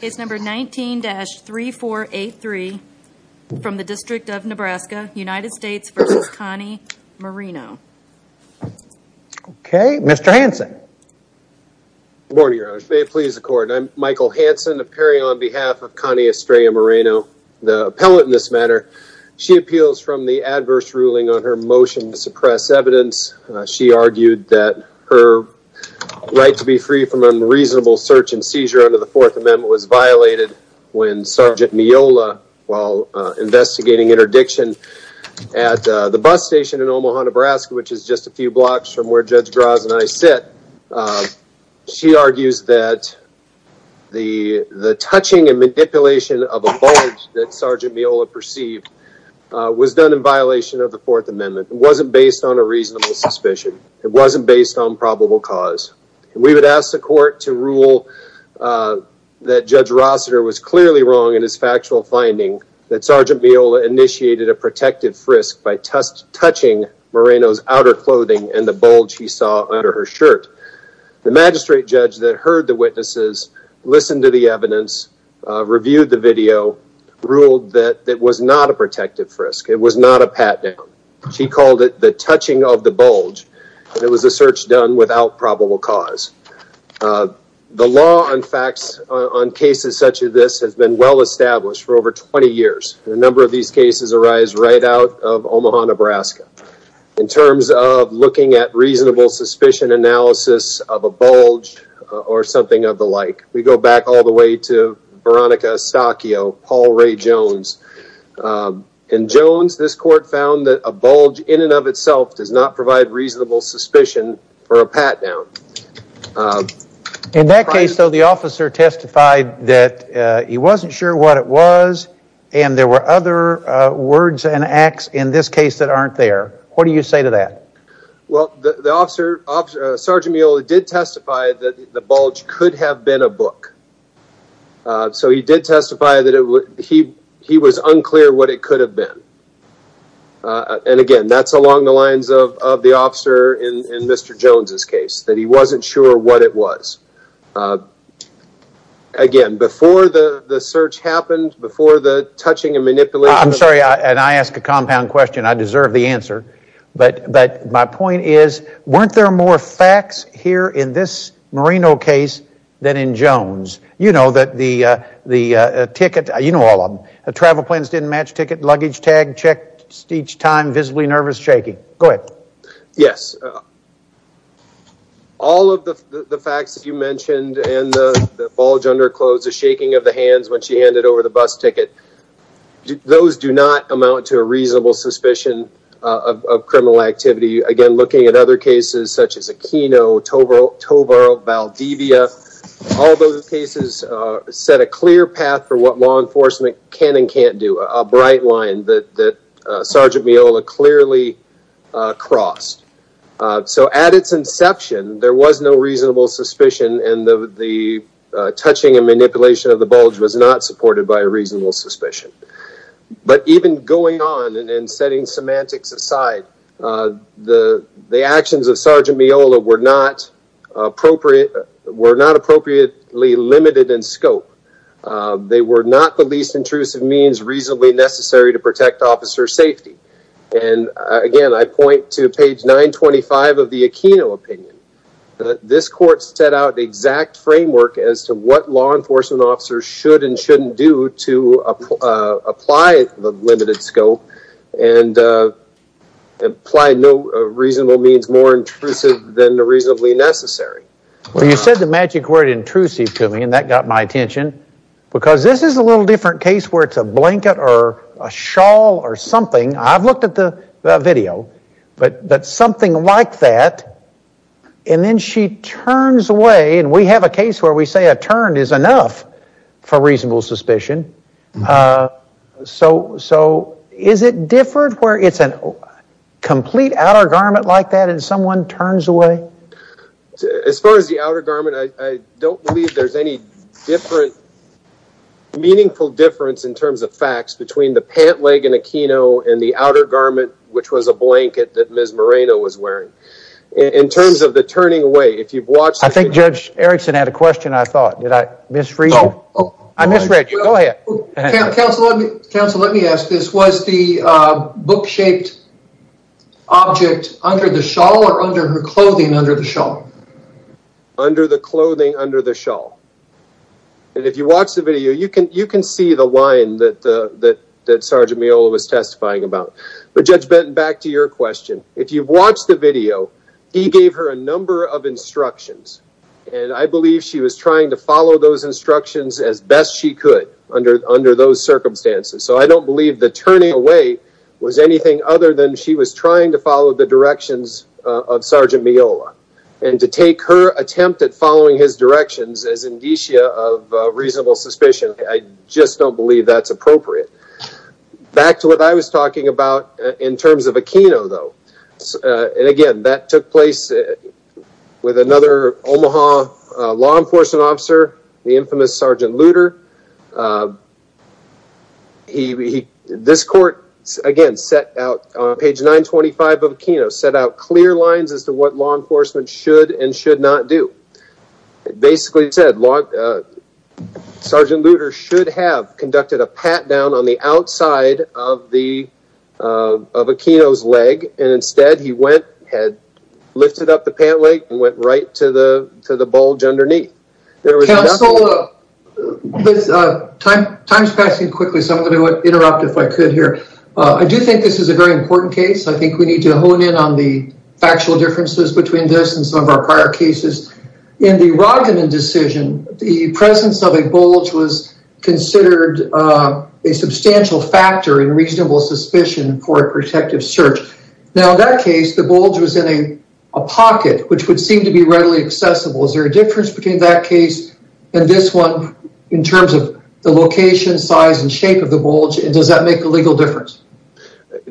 Case number 19-3483 from the District of Nebraska, United States v. Connie Moreno. Mr. Hanson. Good morning, Your Honor, if you would please accord. I'm Michael Hanson of Perry on behalf of Connie Estrella Moreno, the appellate in this matter. She appeals from the adverse ruling on her motion to suppress evidence. She argued that her right to be free from unreasonable search and seizure under the law was violated when Sergeant Miola, while investigating interdiction at the bus station in Omaha, Nebraska, which is just a few blocks from where Judge Graz and I sit, she argues that the touching and manipulation of a bulge that Sergeant Miola perceived was done in violation of the Fourth Amendment. It wasn't based on a reasonable suspicion. It wasn't based on probable cause. We would ask the court to rule that Judge Rossiter was clearly wrong in his factual finding that Sergeant Miola initiated a protective frisk by touching Moreno's outer clothing and the bulge he saw under her shirt. The magistrate judge that heard the witnesses, listened to the evidence, reviewed the video, ruled that it was not a protective frisk. It was not a pat down. She called it the touching of the bulge. It was a search done without probable cause. The law on facts on cases such as this has been well established for over 20 years. A number of these cases arise right out of Omaha, Nebraska. In terms of looking at reasonable suspicion analysis of a bulge or something of the like, we go back all the way to Veronica Stockio, Paul Ray Jones. In Jones, this court found that a bulge in and of itself does not provide reasonable suspicion for a pat down. In that case, though, the officer testified that he wasn't sure what it was and there were other words and acts in this case that aren't there. What do you say to that? Well, the officer, Sergeant Miola, did testify that the bulge could have been a book. So, he did testify that he was unclear what it could have been. And, again, that's along the lines of the officer in Mr. Jones' case, that he wasn't sure what it was. Again, before the search happened, before the touching and manipulation of the bulge I'm sorry, and I ask a compound question. I deserve the answer. But my point is, weren't there more facts here in this Marino case than in Jones? You know that the ticket, you know all of them, travel plans didn't match, ticket, luggage tag, check, speech, time, visibly nervous, shaking. Go ahead. Yes. All of the facts that you mentioned and the bulge underclothes, the shaking of the hands when she handed over the bus ticket. Those do not amount to a reasonable suspicion of criminal activity. Again, looking at other cases such as Aquino, Tovaro, Valdivia, all those cases set a clear path for what law enforcement can and can't do, a bright line that Sergeant Miola clearly crossed. So, at its inception, there was no reasonable suspicion and the touching and manipulation of the bulge was not supported by a reasonable suspicion. But even going on and setting semantics aside, the actions of Sergeant Miola were not appropriate, were not appropriately limited in scope. They were not the least intrusive means reasonably necessary to protect officer safety. And again, I point to page 925 of the Aquino opinion. This court set out the exact framework as to what law enforcement officers should and shouldn't do to apply the limited scope and apply no reasonable means more intrusive than the reasonably necessary. Well, you said the magic word intrusive to me and that got my attention because this is a little different case where it's a blanket or a shawl or something. I've looked at the video, but something like that and then she turns away and we have a case where we say a turn is enough for reasonable suspicion. So is it different where it's a complete outer garment like that and someone turns away? As far as the outer garment, I don't believe there's any different, meaningful difference in terms of facts between the pant leg in Aquino and the outer garment, which was a blanket that Ms. Moreno was wearing. In terms of the turning away, if you've watched the video. I think Judge Erickson had a question, I thought. Did I misread you? I misread you. Go ahead. Counselor, let me ask this. Was the book shaped object under the shawl or under her clothing under the shawl? Under the clothing, under the shawl. And if you watch the video, you can see the line that Sergeant Miola was testifying about. But Judge Benton, back to your question. If you've watched the video, he gave her a number of instructions and I believe she was trying to follow those instructions as best she could under those circumstances. So I don't believe the turning away was anything other than she was trying to follow the directions of Sergeant Miola. And to take her attempt at following his directions as indicia of reasonable suspicion, I just don't believe that's appropriate. Back to what I was talking about in terms of Aquino, though, and again, that took place with another Omaha law enforcement officer, the infamous Sergeant Lutter. Sergeant Lutter, this court, again, set out on page 925 of Aquino, set out clear lines as to what law enforcement should and should not do. It basically said, Sergeant Lutter should have conducted a pat down on the outside of Aquino's leg and instead he went, had lifted up the pant leg and went right to the bulge underneath. Counsel, time is passing quickly, so I'm going to interrupt if I could here. I do think this is a very important case. I think we need to hone in on the factual differences between this and some of our prior cases. In the Roggeman decision, the presence of a bulge was considered a substantial factor in reasonable suspicion for a protective search. Now, in that case, the bulge was in a pocket, which would seem to be readily accessible. Is there a difference between that case and this one in terms of the location, size, and shape of the bulge, and does that make a legal difference?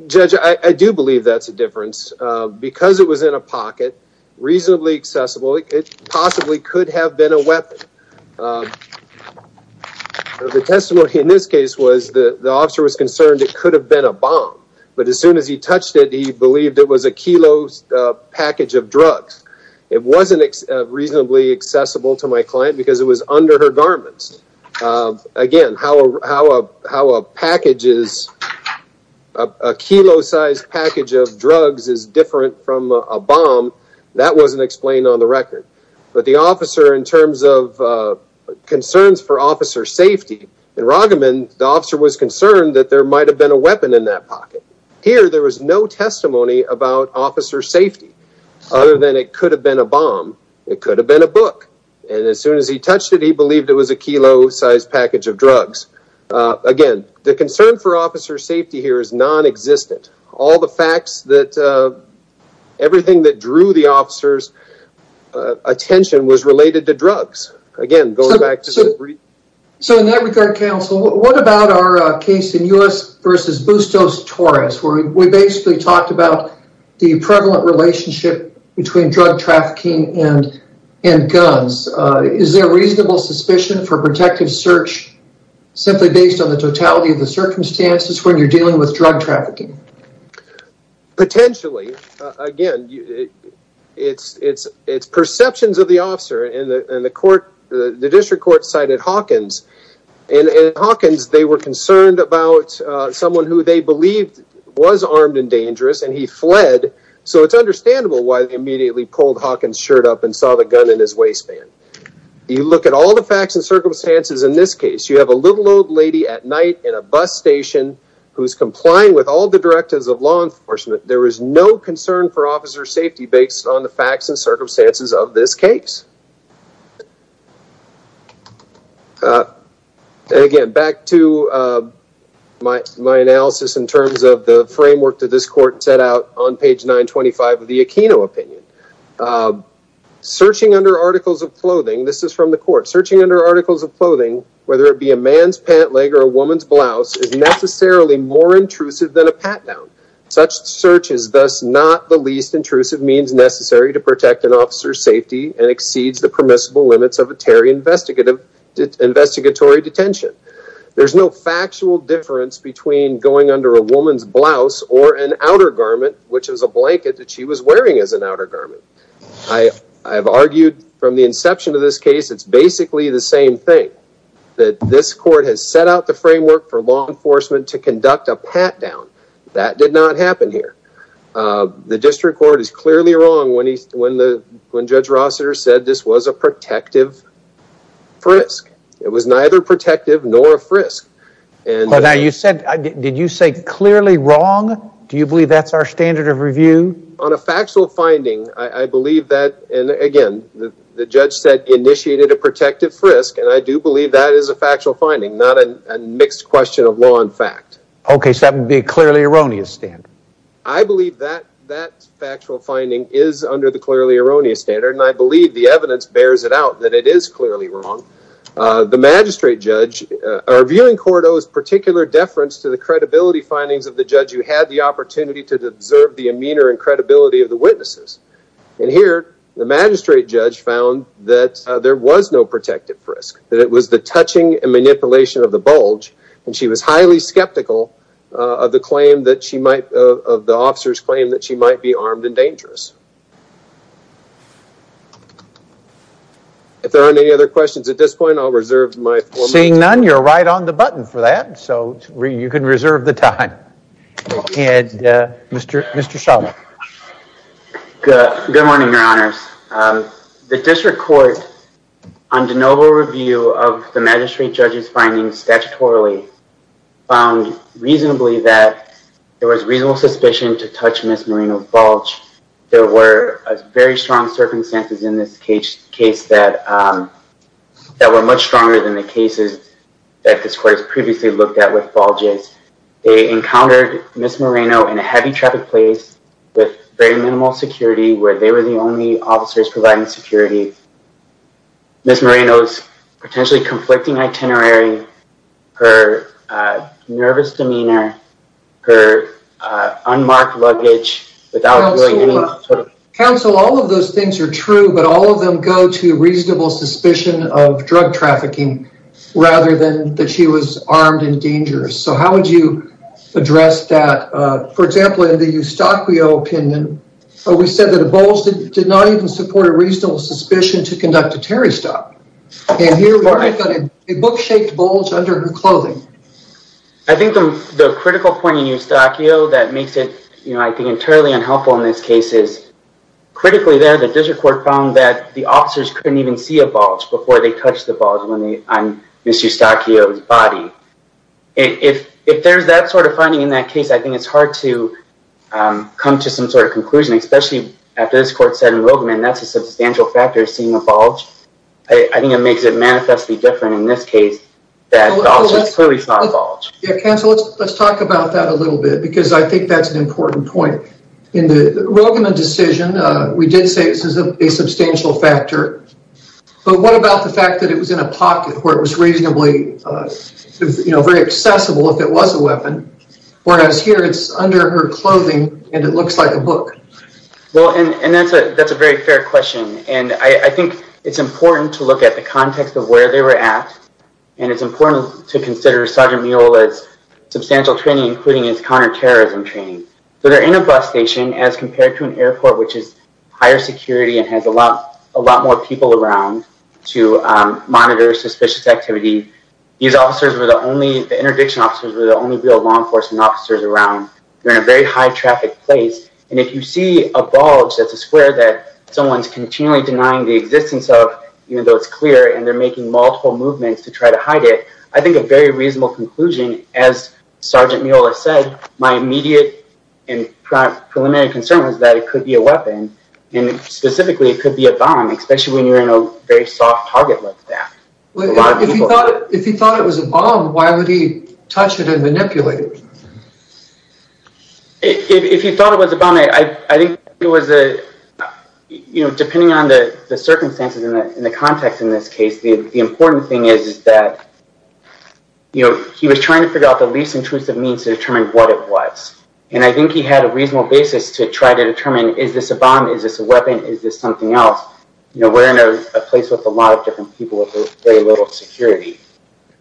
Judge, I do believe that's a difference. Because it was in a pocket, reasonably accessible, it possibly could have been a weapon. The testimony in this case was the officer was concerned it could have been a bomb, but as soon as he touched it, he believed it was a kilo package of drugs. It wasn't reasonably accessible to my client because it was under her garments. Again, how a package is, a kilo-sized package of drugs is different from a bomb, that wasn't explained on the record. But the officer, in terms of concerns for officer safety, in Roggeman, the officer was concerned that there might have been a weapon in that pocket. Here, there was no testimony about officer safety, other than it could have been a bomb, it could have been a book, and as soon as he touched it, he believed it was a kilo-sized package of drugs. Again, the concern for officer safety here is non-existent. All the facts that, everything that drew the officer's attention was related to drugs. Again, going back to the brief... So in that regard, counsel, what about our case in U.S. v. Bustos-Torres, where we basically talked about the prevalent relationship between drug trafficking and guns. Is there reasonable suspicion for protective search simply based on the totality of the circumstances when you're dealing with drug trafficking? Potentially, again, it's perceptions of the officer, and the court, the district court cited Hawkins, and in Hawkins, they were concerned about someone who they believed was armed and dangerous, and he fled, so it's understandable why they immediately pulled Hawkins' shirt up and saw the gun in his waistband. You look at all the facts and circumstances in this case, you have a little old lady at night in a bus station who's complying with all the directives of law enforcement. There is no concern for officer safety based on the facts and circumstances of this case. And again, back to my analysis in terms of the framework that this court set out on page 925 of the Aquino opinion. Searching under articles of clothing, this is from the court, searching under articles of clothing, whether it be a man's pant leg or a woman's blouse, is necessarily more intrusive than a pat down. Such search is thus not the least intrusive means necessary to protect an officer's safety and exceeds the permissible limits of a Terry investigatory detention. There's no factual difference between going under a woman's blouse or an outer garment, which is a blanket that she was wearing as an outer garment. I've argued from the inception of this case, it's basically the same thing, that this court has set out the framework for law enforcement to conduct a pat down. That did not happen here. The district court is clearly wrong when Judge Rossiter said this was a protective frisk. It was neither protective nor a frisk. But now you said, did you say clearly wrong? Do you believe that's our standard of review? On a factual finding, I believe that, and again, the judge said initiated a protective frisk, and I do believe that is a factual finding, not a mixed question of law and fact. Okay, so that would be a clearly erroneous stand. I believe that factual finding is under the clearly erroneous standard, and I believe the evidence bears it out that it is clearly wrong. The magistrate judge, our viewing court owes particular deference to the credibility findings of the judge who had the opportunity to observe the amenor and credibility of the witnesses. And here, the magistrate judge found that there was no protective frisk, that it was the touching and manipulation of the bulge, and she was highly skeptical of the claim that she might, of the officer's claim that she might be armed and dangerous. If there aren't any other questions at this point, I'll reserve my four minutes. Seeing none, you're right on the button for that. So, you can reserve the time. And, Mr. Schaller. Good morning, your honors. The district court, on de novo review of the magistrate judge's findings statutorily, found reasonably that there was reasonable suspicion to touch Ms. Moreno's bulge. There were very strong circumstances in this case that were much stronger than the cases that this court has previously looked at with bulges. They encountered Ms. Moreno in a heavy traffic place with very minimal security, where they were the only officers providing security. Ms. Moreno's potentially conflicting itinerary, her nervous demeanor, her unmarked luggage, without really any... Counsel, all of those things are true, but all of them go to reasonable suspicion of drug trafficking, rather than that she was armed and dangerous. So, how would you address that? For example, in the Eustaquio opinion, we said that the bulge did not even support a condition to conduct a Terry stop. And here, we've got a book-shaped bulge under her clothing. I think the critical point in Eustaquio that makes it, I think, entirely unhelpful in this case is, critically there, the district court found that the officers couldn't even see a bulge before they touched the bulge on Ms. Eustaquio's body. If there's that sort of finding in that case, I think it's hard to come to some sort of conclusion. Especially after this court said in Roggeman that's a substantial factor, seeing a bulge. I think it makes it manifestly different in this case that the bulge is clearly not a bulge. Counsel, let's talk about that a little bit because I think that's an important point. In the Roggeman decision, we did say this is a substantial factor, but what about the fact that it was in a pocket where it was reasonably, you know, very accessible if it was a weapon. Whereas here it's under her clothing and it looks like a book. Well, and that's a very fair question. And I think it's important to look at the context of where they were at, and it's important to consider Sergeant Mule as substantial training, including his counterterrorism training. So they're in a bus station as compared to an airport, which is higher security and has a lot more people around to monitor suspicious activity. These officers were the only, the interdiction officers were the only real law enforcement officers around. They're in a very high traffic place. And if you see a bulge that's a square that someone's continually denying the existence of, even though it's clear, and they're making multiple movements to try to hide it, I think a very reasonable conclusion, as Sergeant Mule has said, my immediate and preliminary concern was that it could be a weapon, and specifically it could be a bomb, especially when you're in a very soft target like that. If he thought it was a bomb, why would he touch it and manipulate it? If he thought it was a bomb, I think it was a, you know, depending on the circumstances and the context in this case, the important thing is that, you know, he was trying to figure out the least intrusive means to determine what it was. And I think he had a reasonable basis to try to determine, is this a bomb? Is this a weapon? Is this something else? You know, we're in a place with a lot of different people with very little security.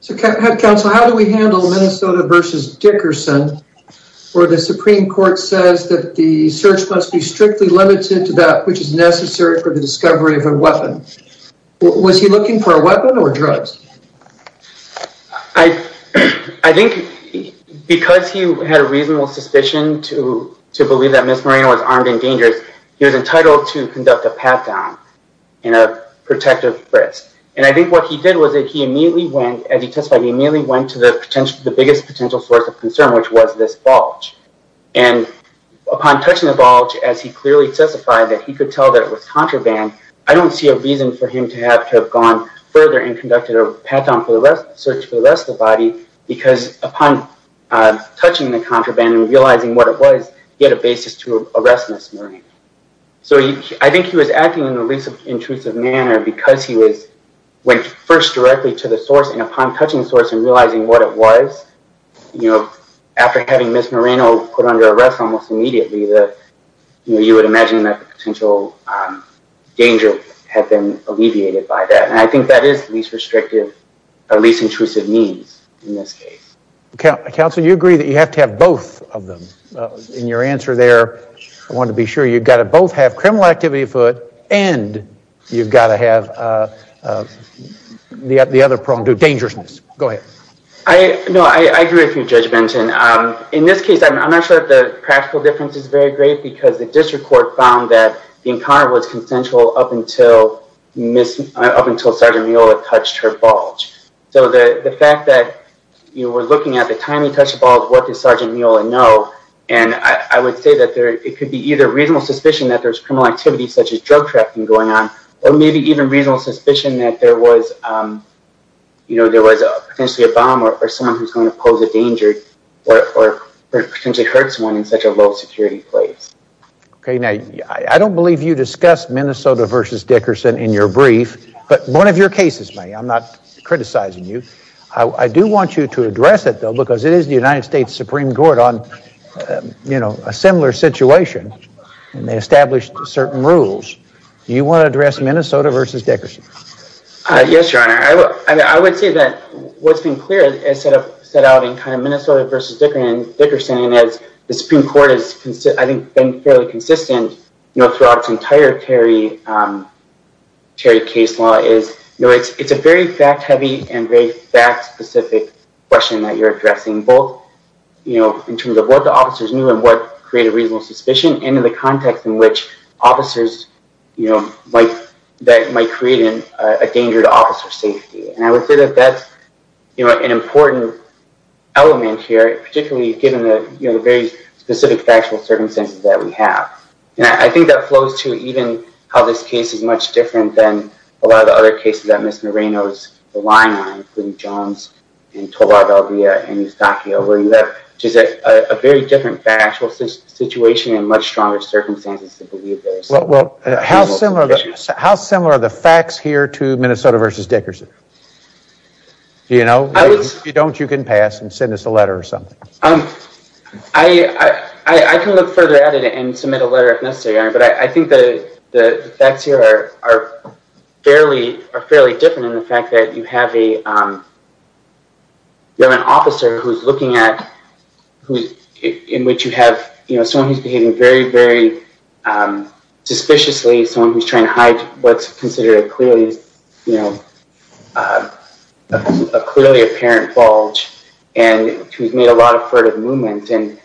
So, Counsel, how do we handle Minnesota v. Dickerson where the Supreme Court says that the search must be strictly limited to that which is necessary for the discovery of a weapon? Was he looking for a weapon or drugs? I think because he had a reasonable suspicion to believe that Miss Marina was armed and a protective wrist. And I think what he did was that he immediately went, as he testified, he immediately went to the biggest potential source of concern, which was this bulge. And upon touching the bulge, as he clearly testified that he could tell that it was contraband, I don't see a reason for him to have to have gone further and conducted a search for the rest of the body because upon touching the contraband and realizing what it was, he had a basis to arrest Miss Marina. So I think he was acting in the least intrusive manner because he went first directly to the source and upon touching the source and realizing what it was. After having Miss Marina put under arrest almost immediately, you would imagine that the potential danger had been alleviated by that. And I think that is the least restrictive or least intrusive means in this case. Counsel, you agree that you have to have both of them. In your answer there, I want to be sure you've got to both have criminal activity foot and you've got to have the other prong to dangerousness. Go ahead. No, I agree with you, Judge Benson. In this case, I'm not sure that the practical difference is very great because the district court found that the encounter was consensual up until Sergeant Miola touched her bulge. So the fact that you were looking at the time he touched the bulge, what does Sergeant Miola know? And I would say that it could be either reasonable suspicion that there's criminal activity such as drug trafficking going on or maybe even reasonable suspicion that there was potentially a bomb or someone who's going to pose a danger or potentially hurts one in such a low security place. I don't believe you discussed Minnesota v. Dickerson in your brief, but one of your cases, I'm not criticizing you. I do want you to address it, though, because it is the United States Supreme Court on a similar situation. They established certain rules. Do you want to address Minnesota v. Dickerson? Yes, Your Honor. I would say that what's been clear and set out in Minnesota v. Dickerson is the Supreme Court has been fairly consistent throughout its entire Terry case law. It's a very fact-heavy and very fact-specific question that you're addressing, both in terms of what the officers knew and what created reasonable suspicion and in the context in which officers might create a danger to officer safety. And I would say that that's an important element here, particularly given the very specific factual circumstances that we have. And I think that flows to even how this case is much different than a lot of the other cases that Ms. Moreno is relying on, including Johns and Tovar Valdez and Eustaquio, where you have a very different factual situation and much stronger circumstances to believe there is reasonable suspicion. Well, how similar are the facts here to Minnesota v. Dickerson? If you don't, you can pass and send us a letter or something. I can look further at it and submit a letter if necessary, but I think the facts here are fairly different in the fact that you have an officer who's looking at, in which you have someone who's behaving very, very suspiciously, someone who's trying to hide what's considered a clearly apparent bulge, and who's made a lot of furtive movements. And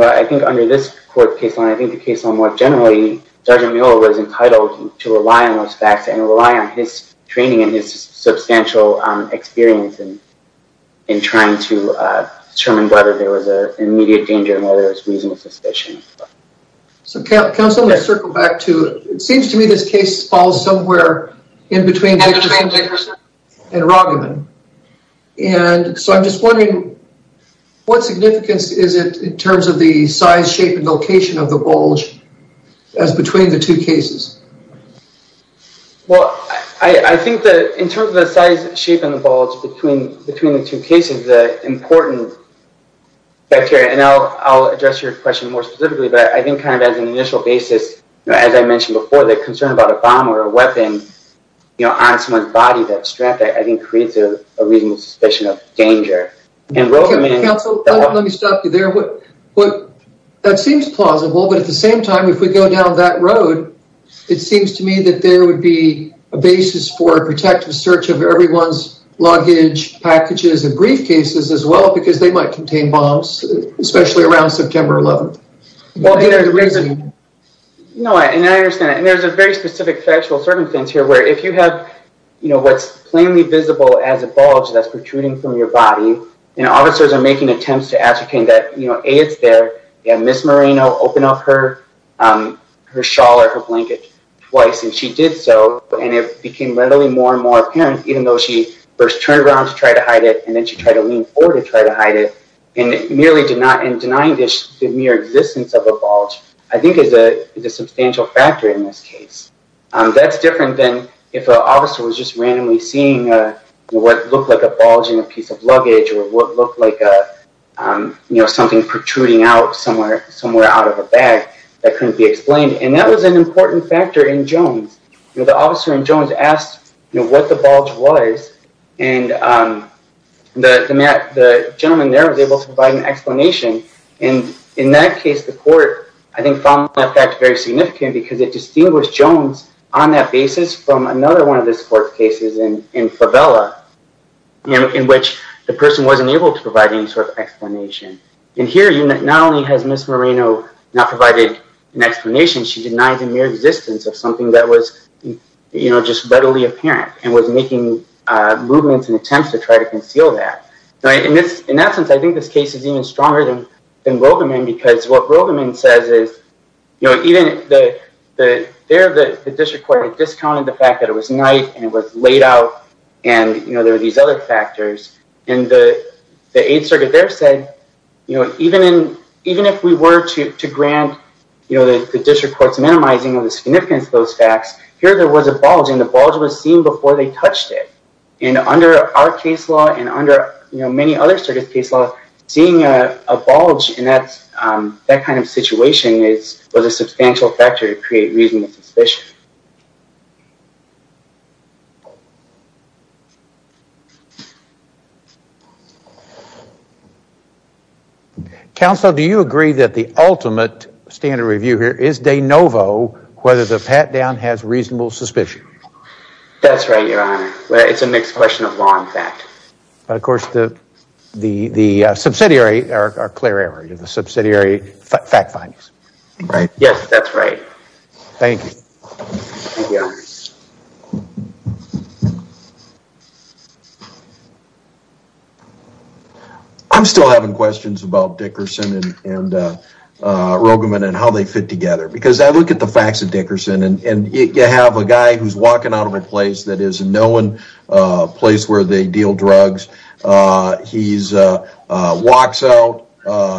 I think under this court's case law, and I think the case law more generally, Judge O'Meara was entitled to rely on those facts and rely on his training and his substantial experience in trying to determine whether there was an immediate danger and whether there was reasonable suspicion. So counsel, I'm going to circle back to it. It seems to me this case falls somewhere in between Dickerson and Roggeman. And so I'm just wondering, what significance is it in terms of the size, shape, and location of the bulge as between the two cases? Well, I think that in terms of the size, shape, and the bulge between the two cases, the important fact here, and I'll address your question more specifically, but I think kind of as an initial basis, as I mentioned before, the concern about a bomb or a weapon on someone's body, that strength, I think creates a reasonable suspicion of danger. And Roggeman... Counsel, let me stop you there. That seems plausible, but at the same time, if we go down that road, it seems to me that there would be a basis for a protective search of everyone's luggage, packages, and briefcases as well, because they might contain bombs, especially around September 11th. No, and I understand that. And there's a very specific factual circumstance here where if you have what's plainly visible as a bulge that's protruding from your body, and officers are making attempts to advocate that A, it's there, and Ms. Moreno opened up her shawl or her blanket twice, and she did so, and it became literally more and more apparent, even though she first turned around to try to hide it, and then she tried to lean forward to try to hide it, and denying the mere existence of a bulge I think is a substantial factor in this case. That's different than if an officer was just randomly seeing what looked like a bulge in a piece of luggage or what looked like something protruding out somewhere out of a bag that couldn't be explained, and that was an important factor in Jones. The officer in Jones asked what the bulge was, and the gentleman there was able to provide an explanation, and in that case, the court, I think, found that fact very significant because it distinguished Jones on that basis from another one of this court's cases in Favela, in which the person wasn't able to provide any sort of explanation. And here, not only has Ms. Moreno not provided an explanation, she denied the mere existence of something that was just readily apparent and was making movements and attempts to try to conceal that. In that sense, I think this case is even stronger than Roggeman because what Roggeman says is even there, the district court had discounted the fact that it was knife and it was laid out, and there were these other factors, and the aid circuit there said, even if we were to grant the district court's minimizing of the significance of those facts, here there was a bulge, and the bulge was seen before they touched it. And under our case law and under many other circuit case laws, seeing a bulge in that kind of situation was a substantial factor to create reasonable suspicion. Thank you. Counsel, do you agree that the ultimate standard review here is de novo whether the pat-down has reasonable suspicion? That's right, Your Honor. It's a mixed question of law and fact. Of course, the subsidiary, or Claire Everett, the subsidiary fact findings. Right. Yes, that's right. Thank you. Thank you, Your Honor. I'm still having questions about Dickerson and Roggeman and how they fit together. Because I look at the facts of Dickerson, and you have a guy who's walking out of a place that is a known place where they deal drugs. He walks out.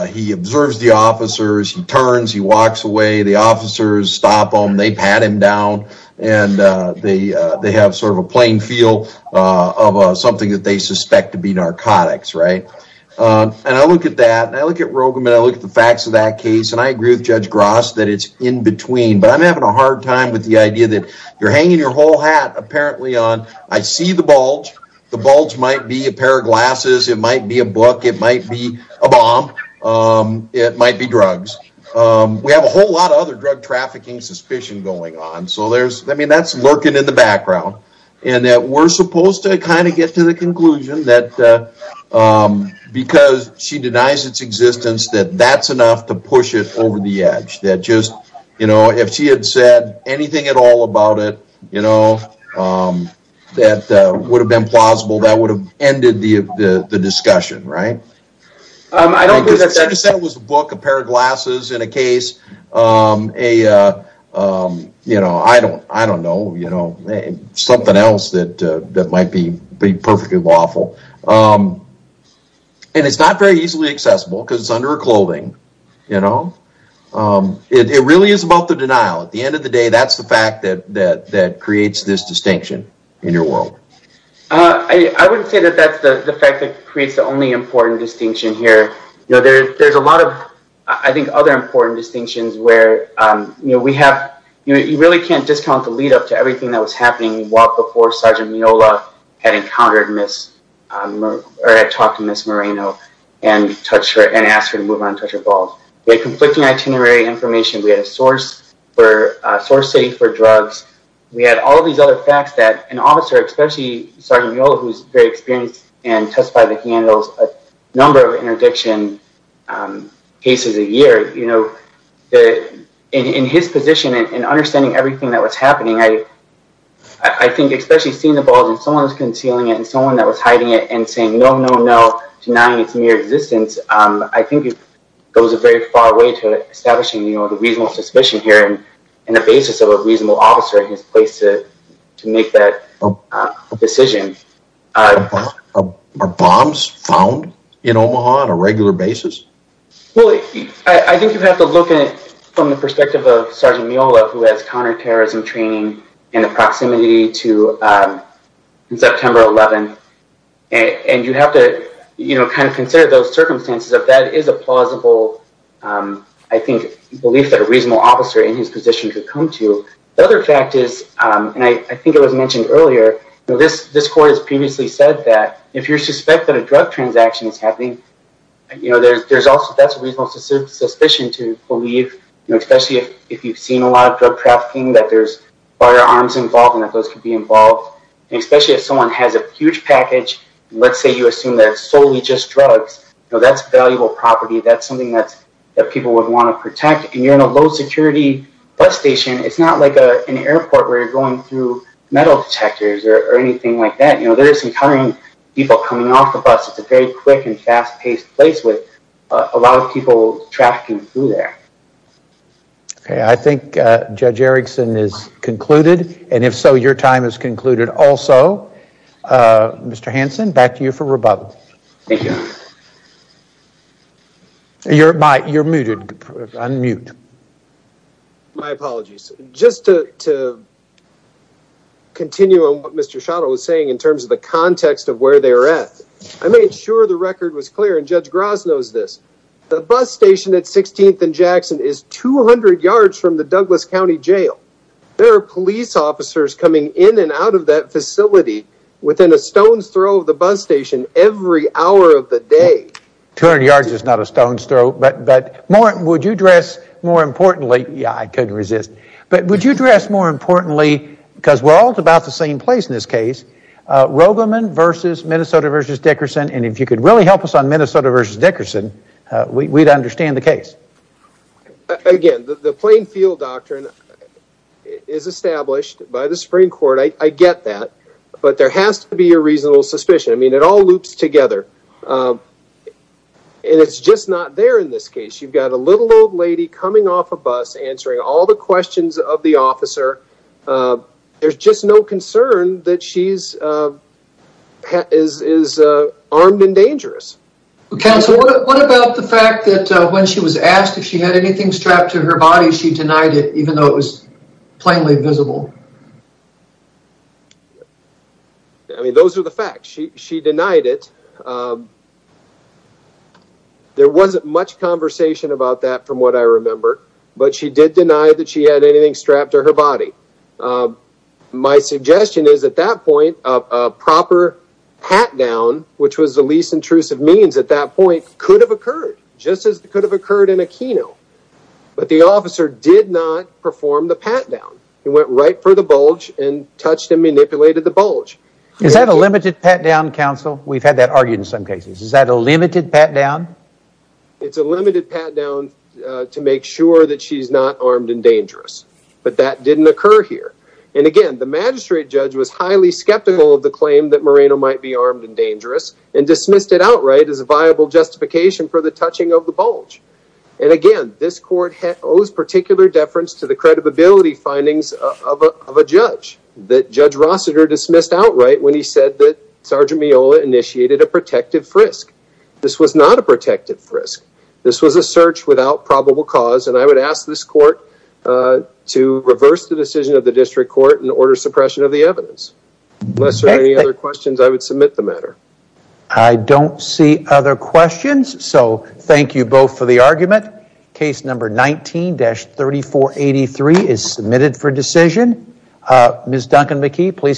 He observes the officers. He turns. He walks away. The officers stop him. They pat him down. And they have sort of a plain feel of something that they suspect to be narcotics, right? And I look at that. And I look at Roggeman. I look at the facts of that case. And I agree with Judge Gross that it's in between. But I'm having a hard time with the idea that you're hanging your whole hat apparently on I see the bulge. The bulge might be a pair of glasses. It might be a book. It might be a bomb. It might be drugs. We have a whole lot of other drug trafficking suspicion going on. So there's, I mean, that's lurking in the background. And that we're supposed to kind of get to the conclusion that because she denies its existence, that that's enough to push it over the edge. That just, you know, if she had said anything at all about it, you know, that would have been plausible. That would have ended the discussion, right? You said it was a book, a pair of glasses in a case, a, you know, I don't know, you know, something else that might be perfectly lawful. And it's not very easily accessible because it's under her clothing, you know. It really is about the denial. At the end of the day, that's the fact that creates this distinction in your world. I wouldn't say that that's the fact that creates the only important distinction here. You know, there's a lot of, I think, other important distinctions where, you know, we have, you really can't discount the lead up to everything that was happening well before Sergeant Miola had encountered Ms., or had talked to Ms. Moreno and touched her, and asked her to move on and touch her balls. We had conflicting itinerary information. We had a source for, a source city for drugs. We had all these other facts that an officer, especially Sergeant Miola, who's very experienced and testified that he handles a number of interdiction cases a year, you know, in his position and understanding everything that was happening, I think especially seeing the balls and someone was concealing it and someone that was hiding it and saying no, no, no, denying its mere existence, I think it goes a very far way to establishing, you know, the reasonable suspicion here and the basis of a reasonable officer in his place to make that decision. Are bombs found in Omaha on a regular basis? Well, I think you have to look at it from the perspective of Sergeant Miola, who has counterterrorism training in the proximity to September 11th, and you have to, you know, kind of consider those circumstances if that is a plausible, I think, belief that a reasonable officer in his position could come to. The other fact is, and I think it was mentioned earlier, you know, this court has previously said that if you suspect that a drug transaction is happening, you know, there's also, that's a reasonable suspicion to believe, you know, especially if you've seen a lot of drug trafficking, that there's firearms involved and that those could be involved. And especially if someone has a huge package, let's say you assume that it's solely just drugs, you know, that's valuable property, that's something that people would want to protect. And you're in a low-security bus station, it's not like an airport where you're going through metal detectors or anything like that. You know, there's some cunning people coming off the bus, it's a very quick and fast-paced place with a lot of people trafficking through there. Okay, I think Judge Erickson is concluded, and if so, your time is concluded also. Mr. Hanson, back to you for rebuttal. Thank you. You're muted, unmute. My apologies. Just to continue on what Mr. Schadl was saying in terms of the context of where they were at, I made sure the record was clear, and Judge Gras knows this. The bus station at 16th and Jackson is 200 yards from the Douglas County Jail. There are police officers coming in and out of that facility within a stone's throw of the bus station every hour of the day. 200 yards is not a stone's throw, but more, would you address more importantly, yeah, I couldn't resist, but would you address more importantly, because we're all at about the same place in this case, Roggeman v. Minnesota v. Dickerson, and if you could really help us on Minnesota v. Dickerson, we'd understand the case. Again, the plain field doctrine is established by the Supreme Court, I get that, but there has to be a reasonable suspicion. I mean, it all loops together, and it's just not there in this case. You've got a little old lady coming off a bus, answering all the questions of the officer. There's just no concern that she's armed and dangerous. Okay, so what about the fact that when she was asked if she had anything strapped to her body, she denied it, even though it was plainly visible? I mean, those are the facts. She denied it. There wasn't much conversation about that, from what I remember, but she did deny that she had anything strapped to her body. My suggestion is, at that point, a proper pat-down, which was the least intrusive means at that point, could have occurred, just as it could have occurred in a keno. But the officer did not perform the pat-down. He went right for the bulge and touched and manipulated the bulge. Is that a limited pat-down, counsel? We've had that argued in some cases. Is that a limited pat-down? It's a limited pat-down to make sure that she's not armed and dangerous. But that didn't occur here. And again, the magistrate judge was highly skeptical of the claim that Moreno might be armed and dangerous, and dismissed it outright as a viable justification for the touching of the bulge. And again, this court owes particular deference to the credibility findings of a judge, that Judge Rossiter dismissed outright when he said that Sergeant Miola initiated a protective frisk. This was not a protective frisk. This was a search without probable cause, and I would ask this court to reverse the decision of the district court and order suppression of the evidence. Unless there are any other questions, I would submit the matter. I don't see other questions, so thank you both for the argument. Case number 19-3483 is submitted for decision. Ms. Duncan-McKee, please continue.